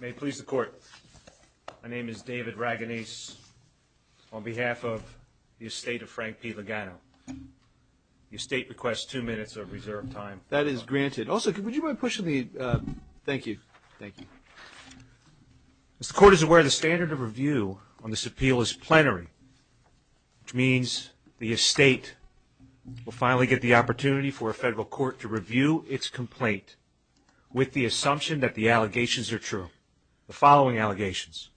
May it please the court, my name is David Raganese on behalf of the estate of Frank P. Lugano. The estate requests two minutes of reserved time. That is granted. Also, would you mind pushing the, thank you. As the court is aware, the standard of review on this appeal is plenary, which means the estate will finally get the opportunity for a federal court to review its complaint with the assumption that the allegations are true. The following allegations.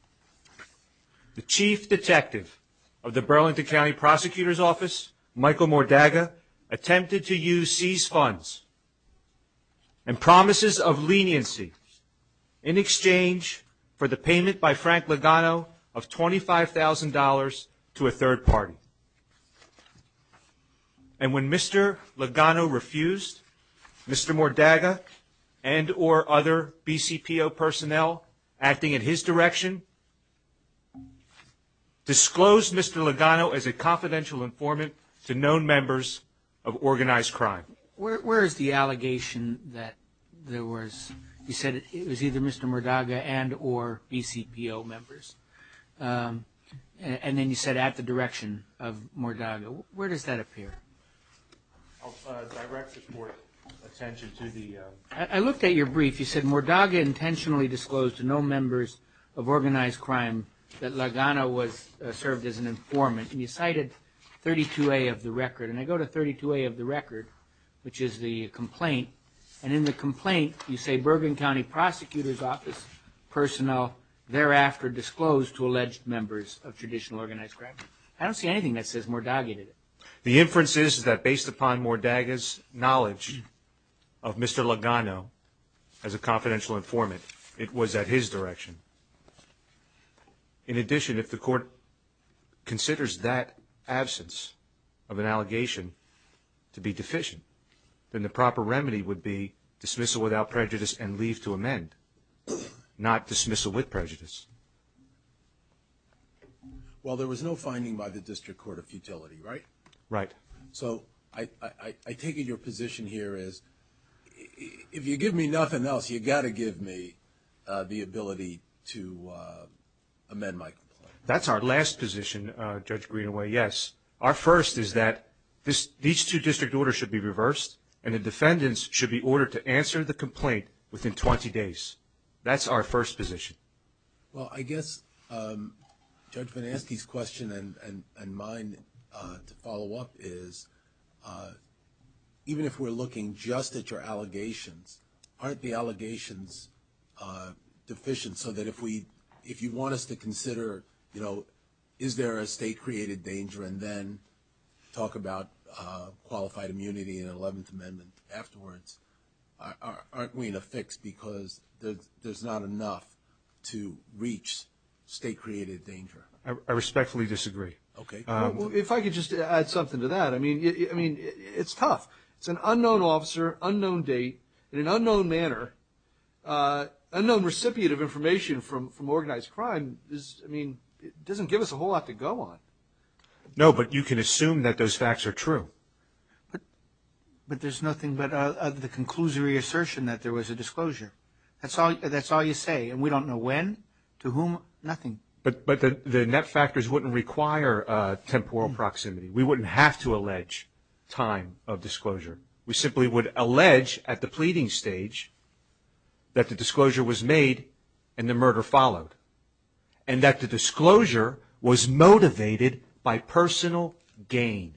The chief detective of the Burlington County Prosecutor's Office, Michael Mordaga, attempted to use seized funds and promises of leniency in exchange for the payment by Frank Lugano of $25,000 to a third party. And when Mr. Lugano refused, Mr. Mordaga and or other BCPO personnel acting in his direction, disclosed Mr. Lugano as a confidential informant to known members of organized crime. Where is the allegation that there was? You said it was either Mr. Mordaga and or BCPO members. And then you said at the direction of Mordaga. Where does that appear? I'll direct the court's attention to the. I looked at your brief. You said Mordaga intentionally disclosed to no members of organized crime that Lugano was served as an informant. And you cited 32A of the record. And I go to 32A of the record, which is the complaint. And in the complaint, you say Bergen County Prosecutor's Office personnel thereafter disclosed to alleged members of traditional organized crime. I don't see anything that says Mordaga did it. The inference is that based upon Mordaga's knowledge of Mr. Lugano as a confidential informant, it was at his direction. In addition, if the court considers that absence of an allegation to be deficient, then the proper remedy would be dismissal without prejudice and leave to amend, not dismissal with prejudice. Well, there was no finding by the district court of futility, right? Right. So I take it your position here is if you give me nothing else, you got to give me the ability to amend my complaint. That's our last position, Judge Greenaway, yes. Our first is that these two district orders should be reversed and the defendants should be ordered to answer the complaint within 20 days. That's our first position. Well, I guess Judge VanNesky's question and mine to follow up is, even if we're looking just at your allegations, aren't the allegations deficient so that if you want us to consider, you know, to reach state-created danger? I respectfully disagree. Okay. Well, if I could just add something to that. I mean, it's tough. It's an unknown officer, unknown date, in an unknown manner, unknown recipient of information from organized crime. I mean, it doesn't give us a whole lot to go on. No, but you can assume that those facts are true. But there's nothing but the conclusory assertion that there was a disclosure. That's all you say, and we don't know when, to whom, nothing. But the net factors wouldn't require temporal proximity. We wouldn't have to allege time of disclosure. We simply would allege at the pleading stage that the disclosure was made and the murder followed, and that the disclosure was motivated by personal gain.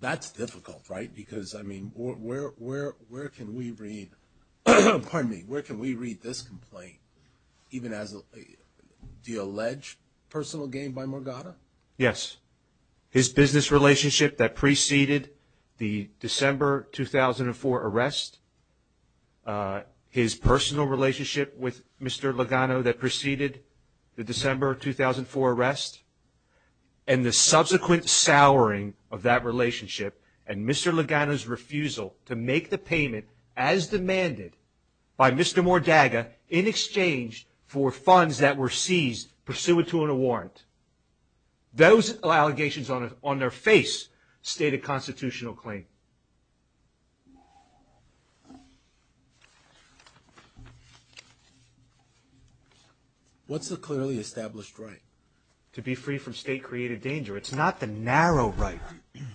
That's difficult, right? Because, I mean, where can we read this complaint even as the alleged personal gain by Morgata? Yes, his business relationship that preceded the December 2004 arrest, his personal relationship with Mr. Logano that preceded the December 2004 arrest, and the subsequent souring of that relationship and Mr. Logano's refusal to make the payment as demanded by Mr. Mordaga in exchange for funds that were seized pursuant to a warrant. Those allegations on their face state a constitutional claim. What's the clearly established right? To be free from state-created danger. It's not the narrow right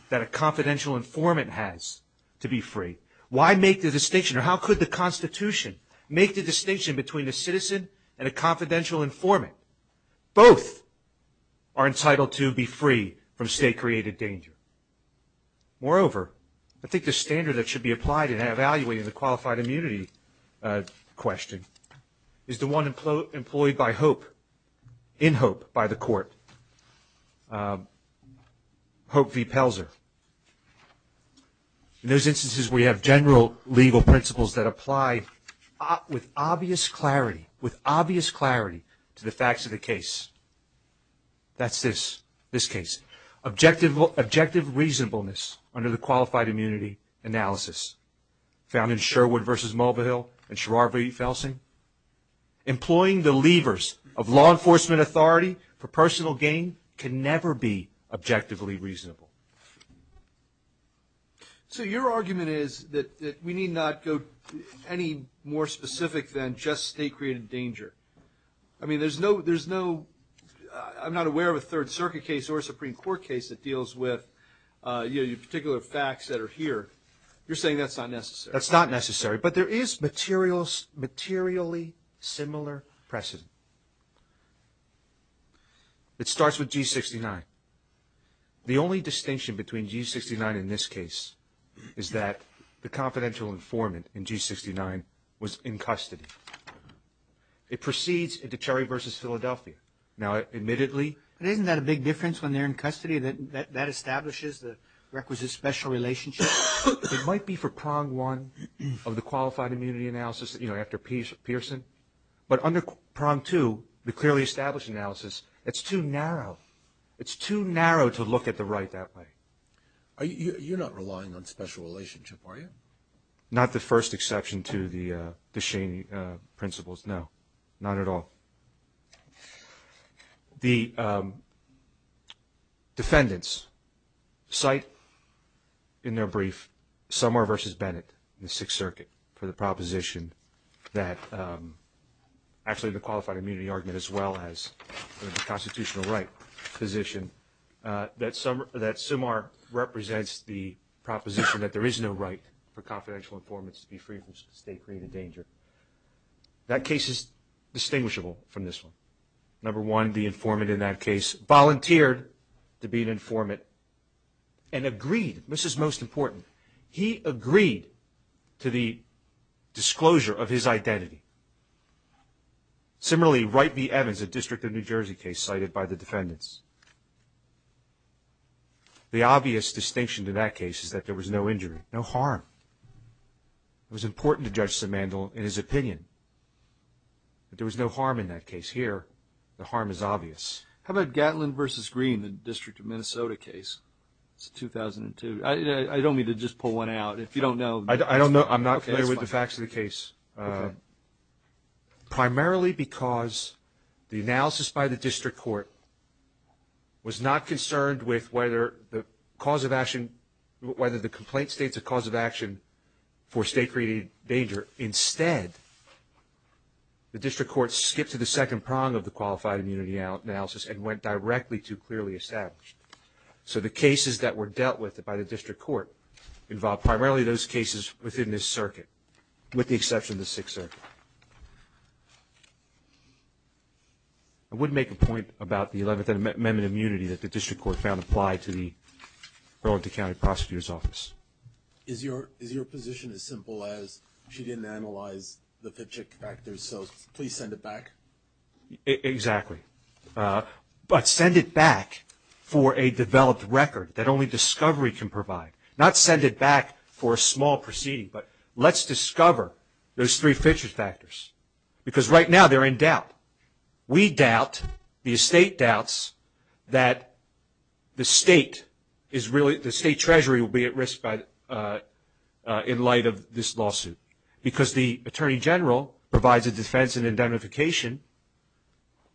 that a confidential informant has to be free. Why make the distinction, or how could the Constitution make the distinction between a citizen and a confidential informant? Both are entitled to be free from state-created danger. Moreover, I think the standard that should be applied in evaluating the qualified immunity question is the one employed by HOPE, in HOPE by the court, HOPE v. Pelzer. In those instances, we have general legal principles that apply with obvious clarity, with obvious clarity to the facts of the case. That's this, this case. Objective reasonableness under the qualified immunity analysis, found in Sherwood v. Mulvihill and Sharar v. Felsing. Employing the levers of law enforcement authority for personal gain can never be objectively reasonable. So your argument is that we need not go any more specific than just state-created danger. I mean, there's no, I'm not aware of a Third Circuit case or a Supreme Court case that deals with particular facts that are here. You're saying that's not necessary. That's not necessary, but there is materially similar precedent. It starts with G69. The only distinction between G69 in this case is that the confidential informant in G69 was in custody. It proceeds into Cherry v. Philadelphia. Now, admittedly. But isn't that a big difference when they're in custody, that that establishes the requisite special relationship? It might be for prong one of the qualified immunity analysis, you know, after Pearson. But under prong two, the clearly established analysis, it's too narrow. It's too narrow to look at the right that way. You're not relying on special relationship, are you? Not the first exception to the Shaney principles, no. Not at all. The defendants cite in their brief Summar v. Bennett in the Sixth Circuit for the proposition that, actually the qualified immunity argument as well as the constitutional right position, that Summar represents the proposition that there is no right for confidential informants to be free from state-created danger. That case is distinguishable from this one. Number one, the informant in that case volunteered to be an informant and agreed. This is most important. He agreed to the disclosure of his identity. Similarly, Wright v. Evans, a District of New Jersey case cited by the defendants. The obvious distinction to that case is that there was no injury, no harm. It was important to Judge Simandl in his opinion that there was no harm in that case. Here, the harm is obvious. How about Gatlin v. Green, the District of Minnesota case? It's a 2002. I don't mean to just pull one out. If you don't know. I don't know. I'm not clear with the facts of the case. Primarily because the analysis by the district court was not concerned with whether the cause of action, whether the complaint states a cause of action for state-created danger. Instead, the district court skipped to the second prong of the qualified immunity analysis and went directly to clearly established. So the cases that were dealt with by the district court involved primarily those cases within this circuit, with the exception of the Sixth Circuit. I wouldn't make a point about the 11th Amendment immunity that the district court found applied to the Burlington County Prosecutor's Office. Is your position as simple as she didn't analyze the Fitchick factors, so please send it back? Exactly. But send it back for a developed record that only discovery can provide. Not send it back for a small proceeding, but let's discover those three Fitchick factors. Because right now they're in doubt. We doubt, the estate doubts, that the state treasury will be at risk in light of this lawsuit. Because the Attorney General provides a defense and indemnification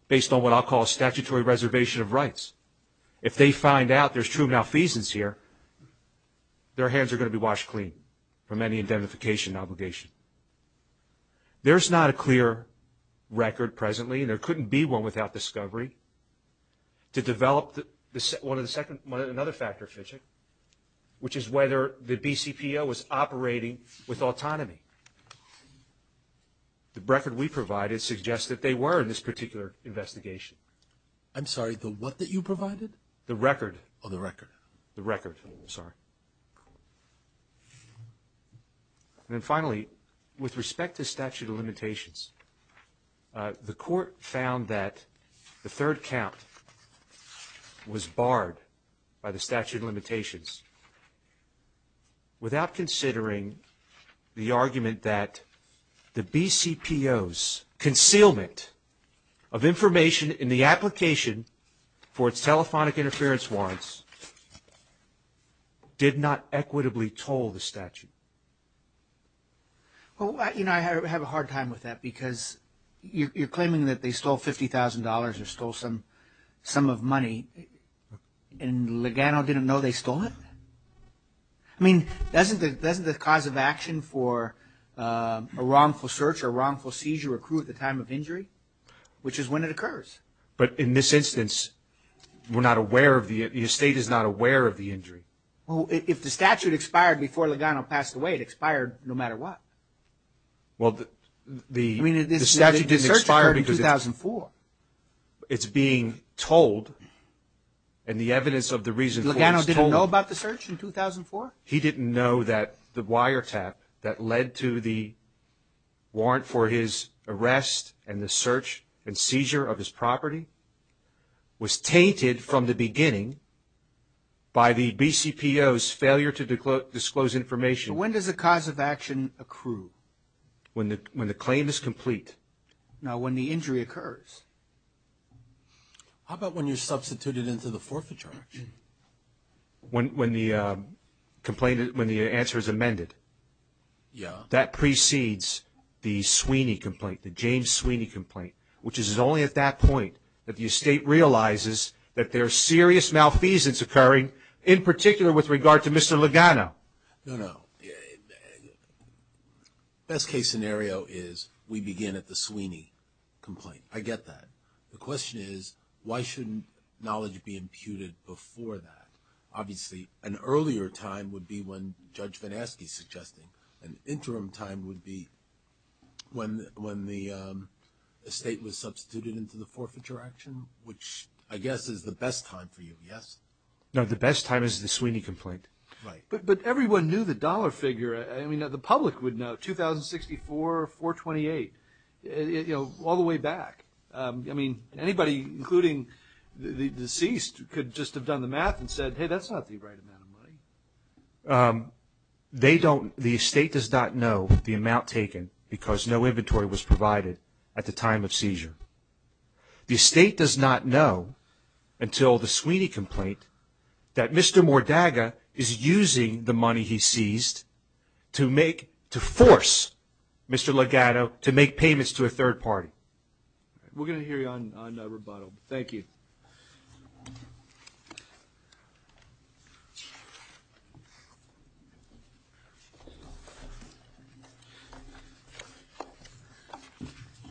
based on what I'll call a statutory reservation of rights. If they find out there's true malfeasance here, their hands are going to be washed clean from any indemnification obligation. There's not a clear record presently, and there couldn't be one without discovery, to develop another factor, Fitchick, which is whether the BCPO was operating with autonomy. The record we provided suggests that they were in this particular investigation. I'm sorry, the what that you provided? The record. Oh, the record. The record, sorry. And then finally, with respect to statute of limitations, the court found that the third count was barred by the statute of limitations without considering the argument that the BCPO's concealment of information in the application for its telephonic interference warrants did not equitably toll the statute. Well, you know, I have a hard time with that because you're claiming that they stole $50,000 or stole some of money, and Ligano didn't know they stole it? I mean, doesn't the cause of action for a wrongful search or wrongful seizure accrue at the time of injury? Which is when it occurs. But in this instance, we're not aware of the, the estate is not aware of the injury. Well, if the statute expired before Ligano passed away, it expired no matter what. Well, the statute didn't expire because it's being told, and the evidence of the reason for it is told. Ligano didn't know about the search in 2004? He didn't know that the wiretap that led to the warrant for his arrest and the search and seizure of his property was tainted from the beginning by the BCPO's failure to disclose information. When does the cause of action accrue? When the claim is complete. Now, when the injury occurs? How about when you substitute it into the forfeiture action? When the complaint, when the answer is amended. Yeah. That precedes the Sweeney complaint, the James Sweeney complaint, which is only at that point that the estate realizes that there are serious malfeasance occurring, in particular with regard to Mr. Ligano. No, no. Best case scenario is we begin at the Sweeney complaint. I get that. The question is, why shouldn't knowledge be imputed before that? Obviously, an earlier time would be when Judge Van Aske is suggesting. An interim time would be when the estate was substituted into the forfeiture action, which I guess is the best time for you, yes? No, the best time is the Sweeney complaint. Right. But everyone knew the dollar figure. I mean, the public would know, 2064, 428, you know, all the way back. I mean, anybody, including the deceased, could just have done the math and said, hey, that's not the right amount of money. They don't, the estate does not know the amount taken because no inventory was provided at the time of seizure. The estate does not know until the Sweeney complaint that Mr. Mordaga is using the money he seized to make, to force Mr. Ligano to make payments to a third party. We're going to hear you on rebuttal. Thank you.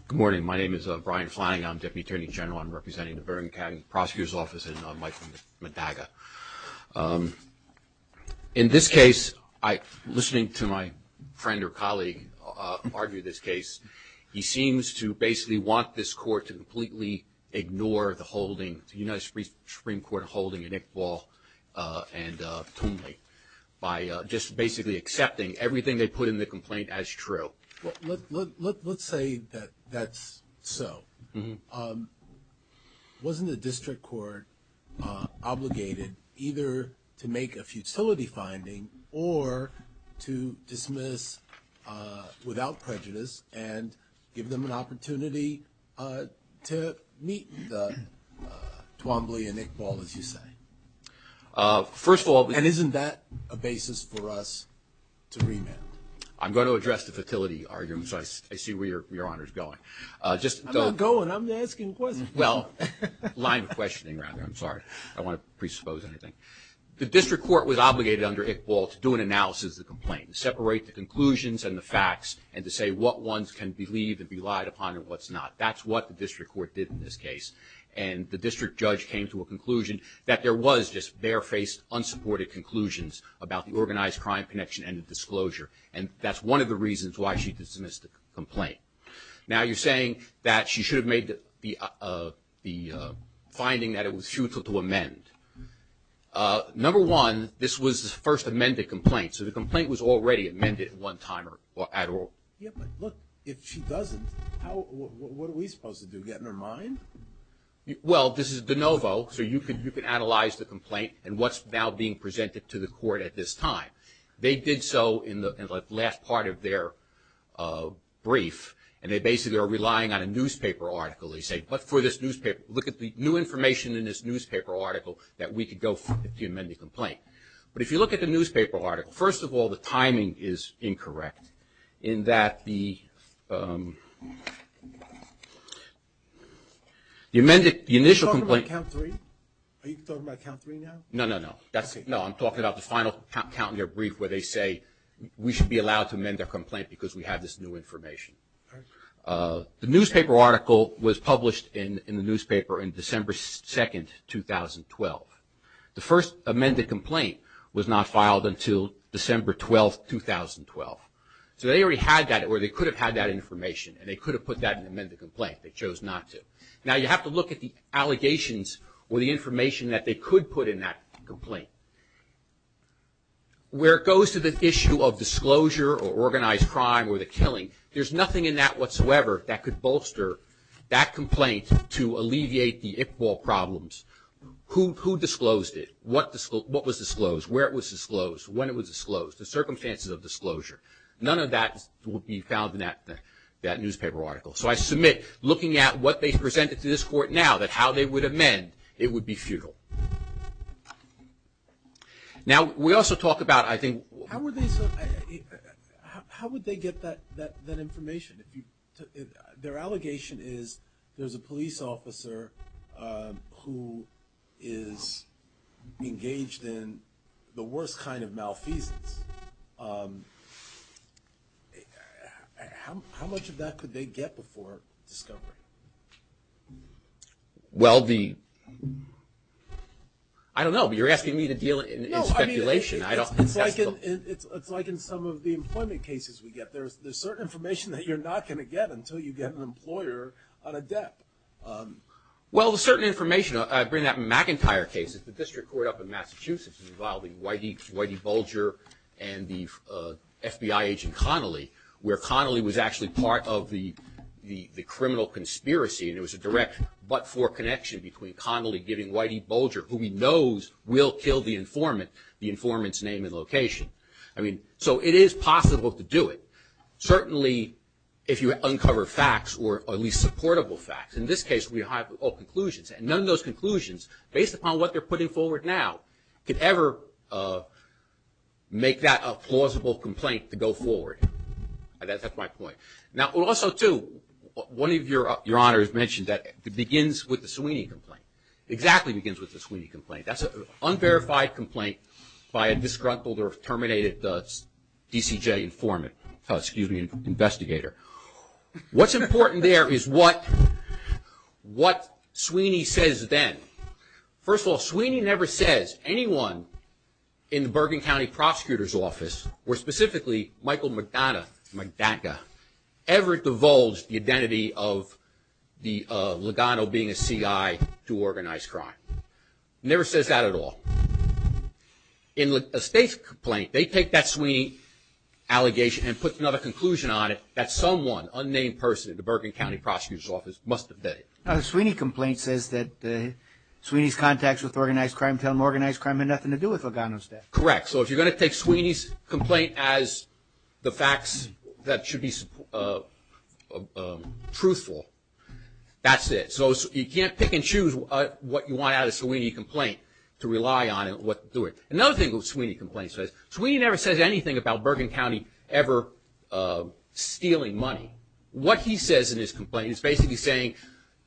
Good morning. My name is Brian Flanagan. I'm Deputy Attorney General. I'm representing the Burbank County Prosecutor's Office and Michael Mordaga. In this case, listening to my friend or colleague argue this case, he seems to basically want this court to completely ignore the holding, the United States Supreme Court holding in Iqbal and Tumley, by just basically accepting everything they put in the complaint as true. Let's say that that's so. Wasn't the district court obligated either to make a futility finding or to dismiss without prejudice and give them an opportunity to meet Tumley and Iqbal, as you say? First of all- And isn't that a basis for us to remand? I'm going to address the futility argument, so I see where Your Honor is going. I'm not going. I'm asking questions. Well, line of questioning, rather. I'm sorry. I don't want to presuppose anything. The district court was obligated under Iqbal to do an analysis of the complaint, separate the conclusions and the facts, and to say what ones can be believed and be lied upon and what's not. That's what the district court did in this case. And the district judge came to a conclusion that there was just bare-faced, unsupported conclusions about the organized crime connection and the disclosure. And that's one of the reasons why she dismissed the complaint. Now you're saying that she should have made the finding that it was futile to amend. Number one, this was the first amended complaint, so the complaint was already amended at one time or at all. Yeah, but look, if she doesn't, what are we supposed to do, get in her mind? Well, this is de novo, so you can analyze the complaint and what's now being presented to the court at this time. They did so in the last part of their brief, and they basically are relying on a newspaper article. They say, but for this newspaper, look at the new information in this newspaper article that we could go to amend the complaint. But if you look at the newspaper article, first of all, the timing is incorrect, in that the amended initial complaint. Are you talking about count three now? No, no, no. No, I'm talking about the final count in their brief where they say, we should be allowed to amend their complaint because we have this new information. The newspaper article was published in the newspaper on December 2, 2012. The first amended complaint was not filed until December 12, 2012. So they already had that, or they could have had that information, and they could have put that in the amended complaint. They chose not to. Now, you have to look at the allegations or the information that they could put in that complaint. Where it goes to the issue of disclosure or organized crime or the killing, there's nothing in that whatsoever that could bolster that complaint to alleviate the Iqbal problems. Who disclosed it? What was disclosed? Where it was disclosed? When it was disclosed? The circumstances of disclosure. None of that would be found in that newspaper article. So I submit, looking at what they presented to this court now, that how they would amend, it would be futile. Now, we also talk about, I think – How would they get that information? Their allegation is there's a police officer who is engaged in the worst kind of malfeasance. How much of that could they get before discovery? Well, the – I don't know, but you're asking me to deal in speculation. No, I mean, it's like in some of the employment cases we get. There's certain information that you're not going to get until you get an employer on a debt. Well, the certain information, I bring up McIntyre cases, the district court up in Massachusetts involving Whitey Bulger and the FBI agent Connolly, where Connolly was actually part of the criminal conspiracy, and it was a direct but-for connection between Connolly giving Whitey Bulger, who he knows will kill the informant, the informant's name and location. I mean, so it is possible to do it, certainly if you uncover facts or at least supportable facts. In this case, we have all conclusions, and none of those conclusions based upon what they're putting forward now could ever make that a plausible complaint to go forward. That's my point. Now, also, too, one of your honors mentioned that it begins with the Sweeney complaint. It exactly begins with the Sweeney complaint. That's an unverified complaint by a disgruntled or terminated DCJ informant, excuse me, investigator. What's important there is what Sweeney says then. First of all, Sweeney never says anyone in the Bergen County Prosecutor's Office, or specifically Michael McDonough, McDonough, ever divulged the identity of Lugano being a CI to organize crime. Never says that at all. In a state complaint, they take that Sweeney allegation and put another conclusion on it that someone, unnamed person, in the Bergen County Prosecutor's Office must have done it. Now, the Sweeney complaint says that Sweeney's contacts with organized crime tell him organized crime had nothing to do with Lugano's death. Correct. So if you're going to take Sweeney's complaint as the facts that should be truthful, that's it. So you can't pick and choose what you want out of the Sweeney complaint to rely on and what to do with it. Another thing the Sweeney complaint says, Sweeney never says anything about Bergen County ever stealing money. What he says in his complaint is basically saying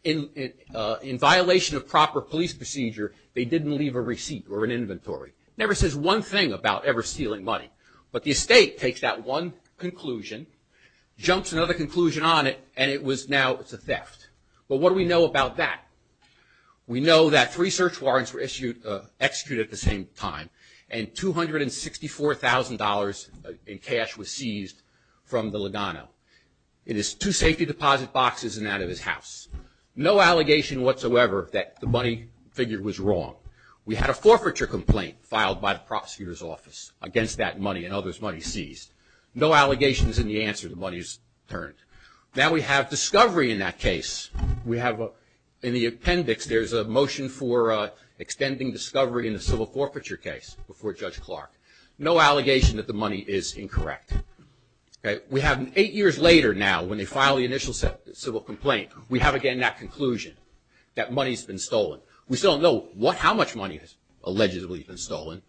in violation of proper police procedure, they didn't leave a receipt or an inventory. Never says one thing about ever stealing money. But the estate takes that one conclusion, jumps another conclusion on it, and it was now, it's a theft. But what do we know about that? We know that three search warrants were executed at the same time, and $264,000 in cash was seized from the Lugano. It is two safety deposit boxes and out of his house. No allegation whatsoever that the money figure was wrong. We had a forfeiture complaint filed by the prosecutor's office against that money and others' money seized. No allegations in the answer. The money is returned. Now we have discovery in that case. We have in the appendix, there's a motion for extending discovery in the civil forfeiture case before Judge Clark. No allegation that the money is incorrect. We have eight years later now when they file the initial civil complaint, we have again that conclusion that money's been stolen. We still don't know how much money has allegedly been stolen.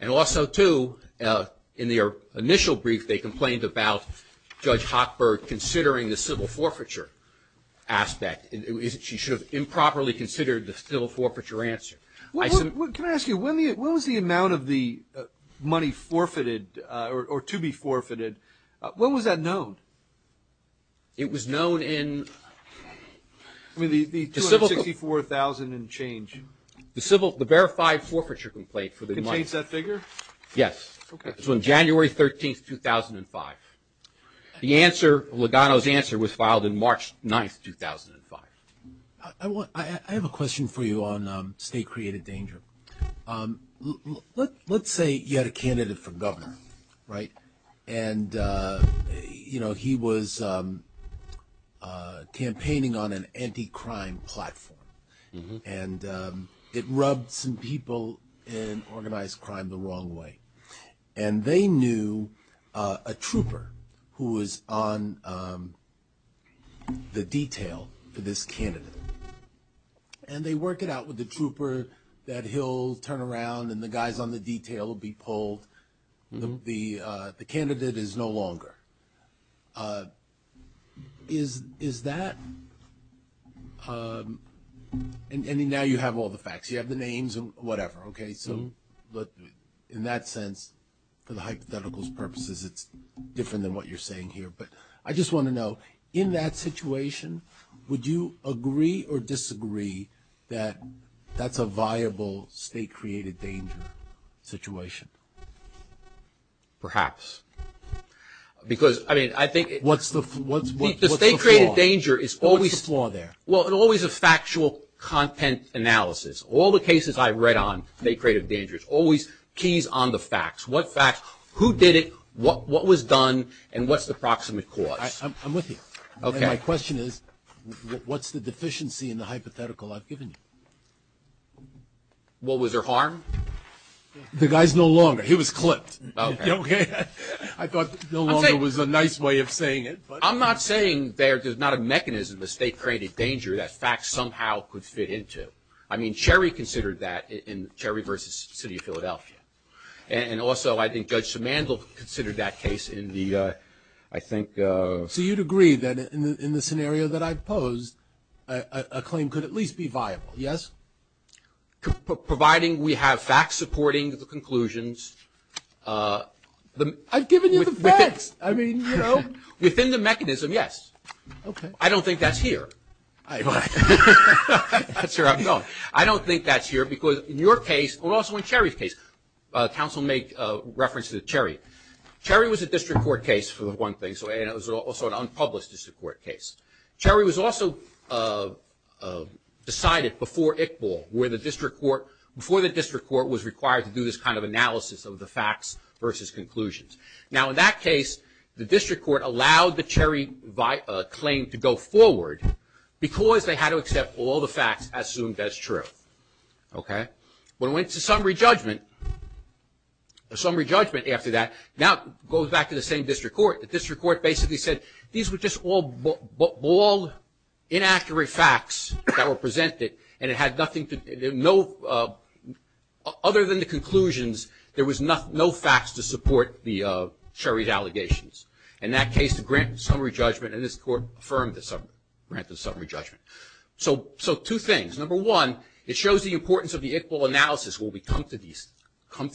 And also, too, in their initial brief, they complained about Judge Hochberg considering the civil forfeiture aspect. She should have improperly considered the civil forfeiture answer. Can I ask you, when was the amount of the money forfeited or to be forfeited, when was that known? It was known in the civil. The $264,000 and change. The civil, the verified forfeiture complaint for the money. It contains that figure? Yes. Okay. It's from January 13th, 2005. The answer, Lugano's answer, was filed in March 9th, 2005. I have a question for you on state-created danger. Let's say you had a candidate for governor, right, and, you know, he was campaigning on an anti-crime platform. And it rubbed some people in organized crime the wrong way. And they knew a trooper who was on the detail for this candidate. And they work it out with the trooper that he'll turn around and the guys on the detail will be pulled. The candidate is no longer. Is that, and now you have all the facts. You have the names and whatever. Okay. So in that sense, for the hypothetical's purposes, it's different than what you're saying here. But I just want to know, in that situation, would you agree or disagree that that's a viable state-created danger situation? Perhaps. Because, I mean, I think. What's the flaw? The state-created danger is always. What's the flaw there? Well, it's always a factual content analysis. All the cases I've read on state-created dangers, always keys on the facts. What facts, who did it, what was done, and what's the proximate cause? I'm with you. Okay. My question is, what's the deficiency in the hypothetical I've given you? What, was there harm? The guy's no longer. He was clipped. Okay. I thought no longer was a nice way of saying it. I'm not saying there's not a mechanism of state-created danger that facts somehow could fit into. I mean, Cherry considered that in Cherry v. City of Philadelphia. And also, I think Judge Simandl considered that case in the, I think. So you'd agree that in the scenario that I posed, a claim could at least be viable, yes? Providing we have facts supporting the conclusions. I've given you the facts. I mean, you know. Within the mechanism, yes. Okay. I don't think that's here. That's where I'm going. I don't think that's here because in your case, and also in Cherry's case, counsel may reference to Cherry. Cherry was a district court case for the one thing, and it was also an unpublished district court case. Cherry was also decided before Iqbal, where the district court, before the district court was required to do this kind of analysis of the facts versus conclusions. Now, in that case, the district court allowed the Cherry claim to go forward because they had to accept all the facts assumed as truth. Okay. When it went to summary judgment, the summary judgment after that now goes back to the same district court. The district court basically said these were just all inaccurate facts that were presented, and it had nothing to, no, other than the conclusions, there was no facts to support the Cherry's allegations. In that case, the grant summary judgment, and this court affirmed the grant of summary judgment. So two things. Number one, it shows the importance of the Iqbal analysis when we come to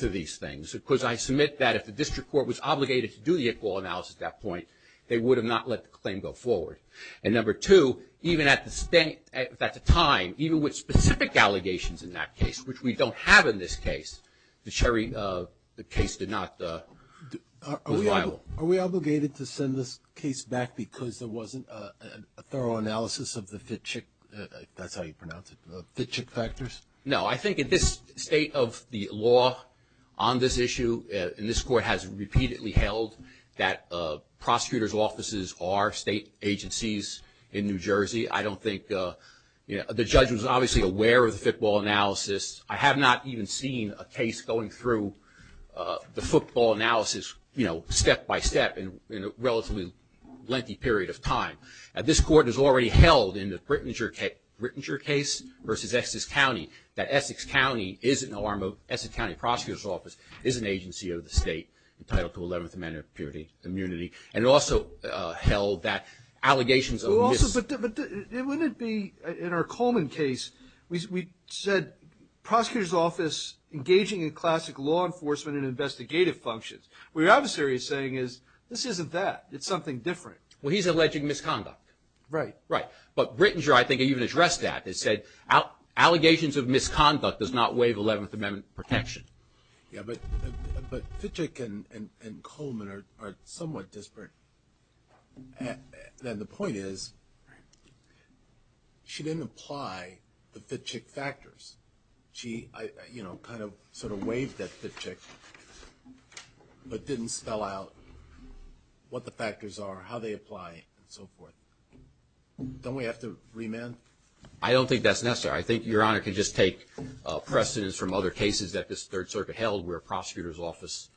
these things, because I submit that if the district court was obligated to do the Iqbal analysis at that point, they would have not let the claim go forward. And number two, even at the time, even with specific allegations in that case, which we don't have in this case, the Cherry, the case did not, was liable. Are we obligated to send this case back because there wasn't a thorough analysis of the Fitchick, that's how you pronounce it, Fitchick factors? No. I think in this state of the law on this issue, and this court has repeatedly held that prosecutors' offices are state agencies in New Jersey. I don't think, you know, the judge was obviously aware of the football analysis. I have not even seen a case going through the football analysis, you know, step by step in a relatively lengthy period of time. This court has already held in the Brittinger case versus Essex County that Essex County is an arm of, Essex County prosecutor's office is an agency of the state entitled to Eleventh Amendment of Purity, immunity, and also held that allegations of mis- But wouldn't it be, in our Coleman case, we said prosecutor's office engaging in classic law enforcement and investigative functions. What your adversary is saying is this isn't that, it's something different. Well, he's alleging misconduct. Right. Right. But Brittinger, I think, even addressed that. It said allegations of misconduct does not waive Eleventh Amendment protection. Yeah, but Fitchick and Coleman are somewhat disparate. And the point is, she didn't apply the Fitchick factors. She, you know, kind of sort of waived that Fitchick, but didn't spell out what the factors are, how they apply, and so forth. Don't we have to remand? I don't think that's necessary. I think Your Honor can just take precedence from other cases that this Third Circuit held where prosecutor's office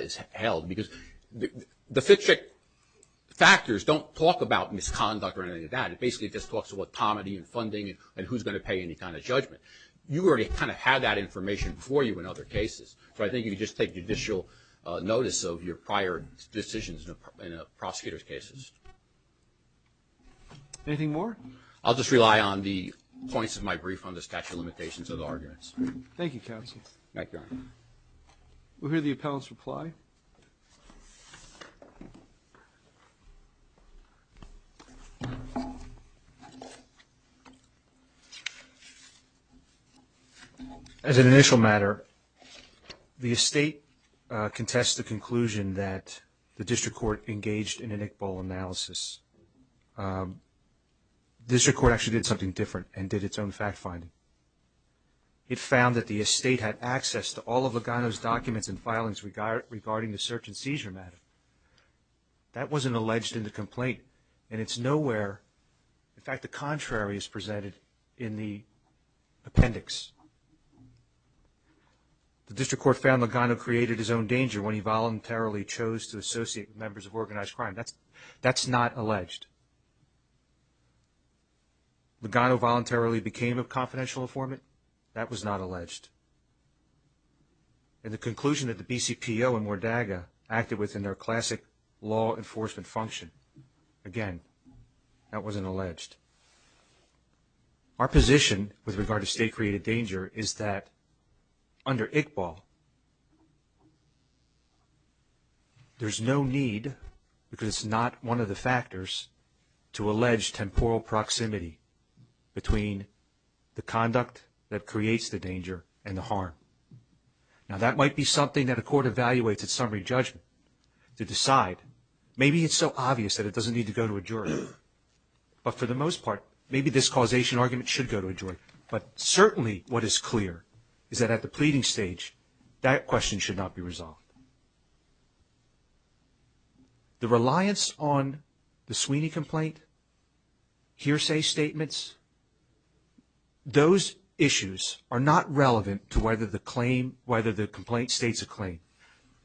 is held. Because the Fitchick factors don't talk about misconduct or anything like that. It basically just talks about comity and funding and who's going to pay any kind of judgment. You already kind of have that information for you in other cases. So I think you can just take judicial notice of your prior decisions in a prosecutor's cases. Anything more? I'll just rely on the points of my brief on the statute of limitations of the arguments. Thank you, counsel. Thank you, Your Honor. We'll hear the appellant's reply. As an initial matter, the estate contests the conclusion that the district court engaged in an Iqbal analysis. The district court actually did something different and did its own fact-finding. It found that the estate had access to all of Lugano's documents and filings regarding the search and seizure matter. And it's nowhere, in fact, the contrary is presented in the appendix. The district court found Lugano created his own danger when he voluntarily chose to associate with members of organized crime. That's not alleged. Lugano voluntarily became a confidential informant. That was not alleged. And the conclusion that the BCPO and Mordaga acted within their classic law enforcement function. Again, that wasn't alleged. Our position with regard to state-created danger is that under Iqbal, there's no need, because it's not one of the factors, to allege temporal proximity between the conduct that creates the danger and the harm. Now, that might be something that a court evaluates at summary judgment to decide. Maybe it's so obvious that it doesn't need to go to a jury. But for the most part, maybe this causation argument should go to a jury. But certainly what is clear is that at the pleading stage, that question should not be resolved. The reliance on the Sweeney complaint, hearsay statements, those issues are not relevant to whether the complaint states a claim.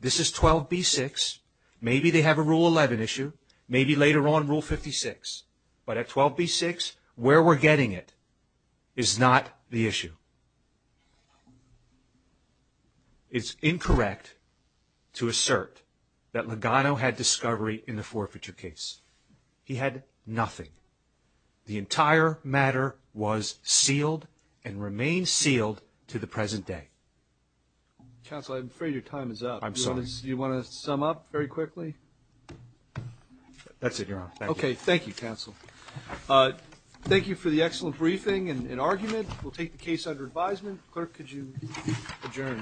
This is 12b-6. Maybe they have a Rule 11 issue. Maybe later on Rule 56. But at 12b-6, where we're getting it is not the issue. It's incorrect to assert that Lugano had discovery in the forfeiture case. He had nothing. The entire matter was sealed and remains sealed to the present day. Counsel, I'm afraid your time is up. I'm sorry. Do you want to sum up very quickly? That's it, Your Honor. Thank you. Okay. Thank you, Counsel. Thank you for the excellent briefing and argument. With that being said, we'll take the case under advisement. Clerk, could you adjourn this?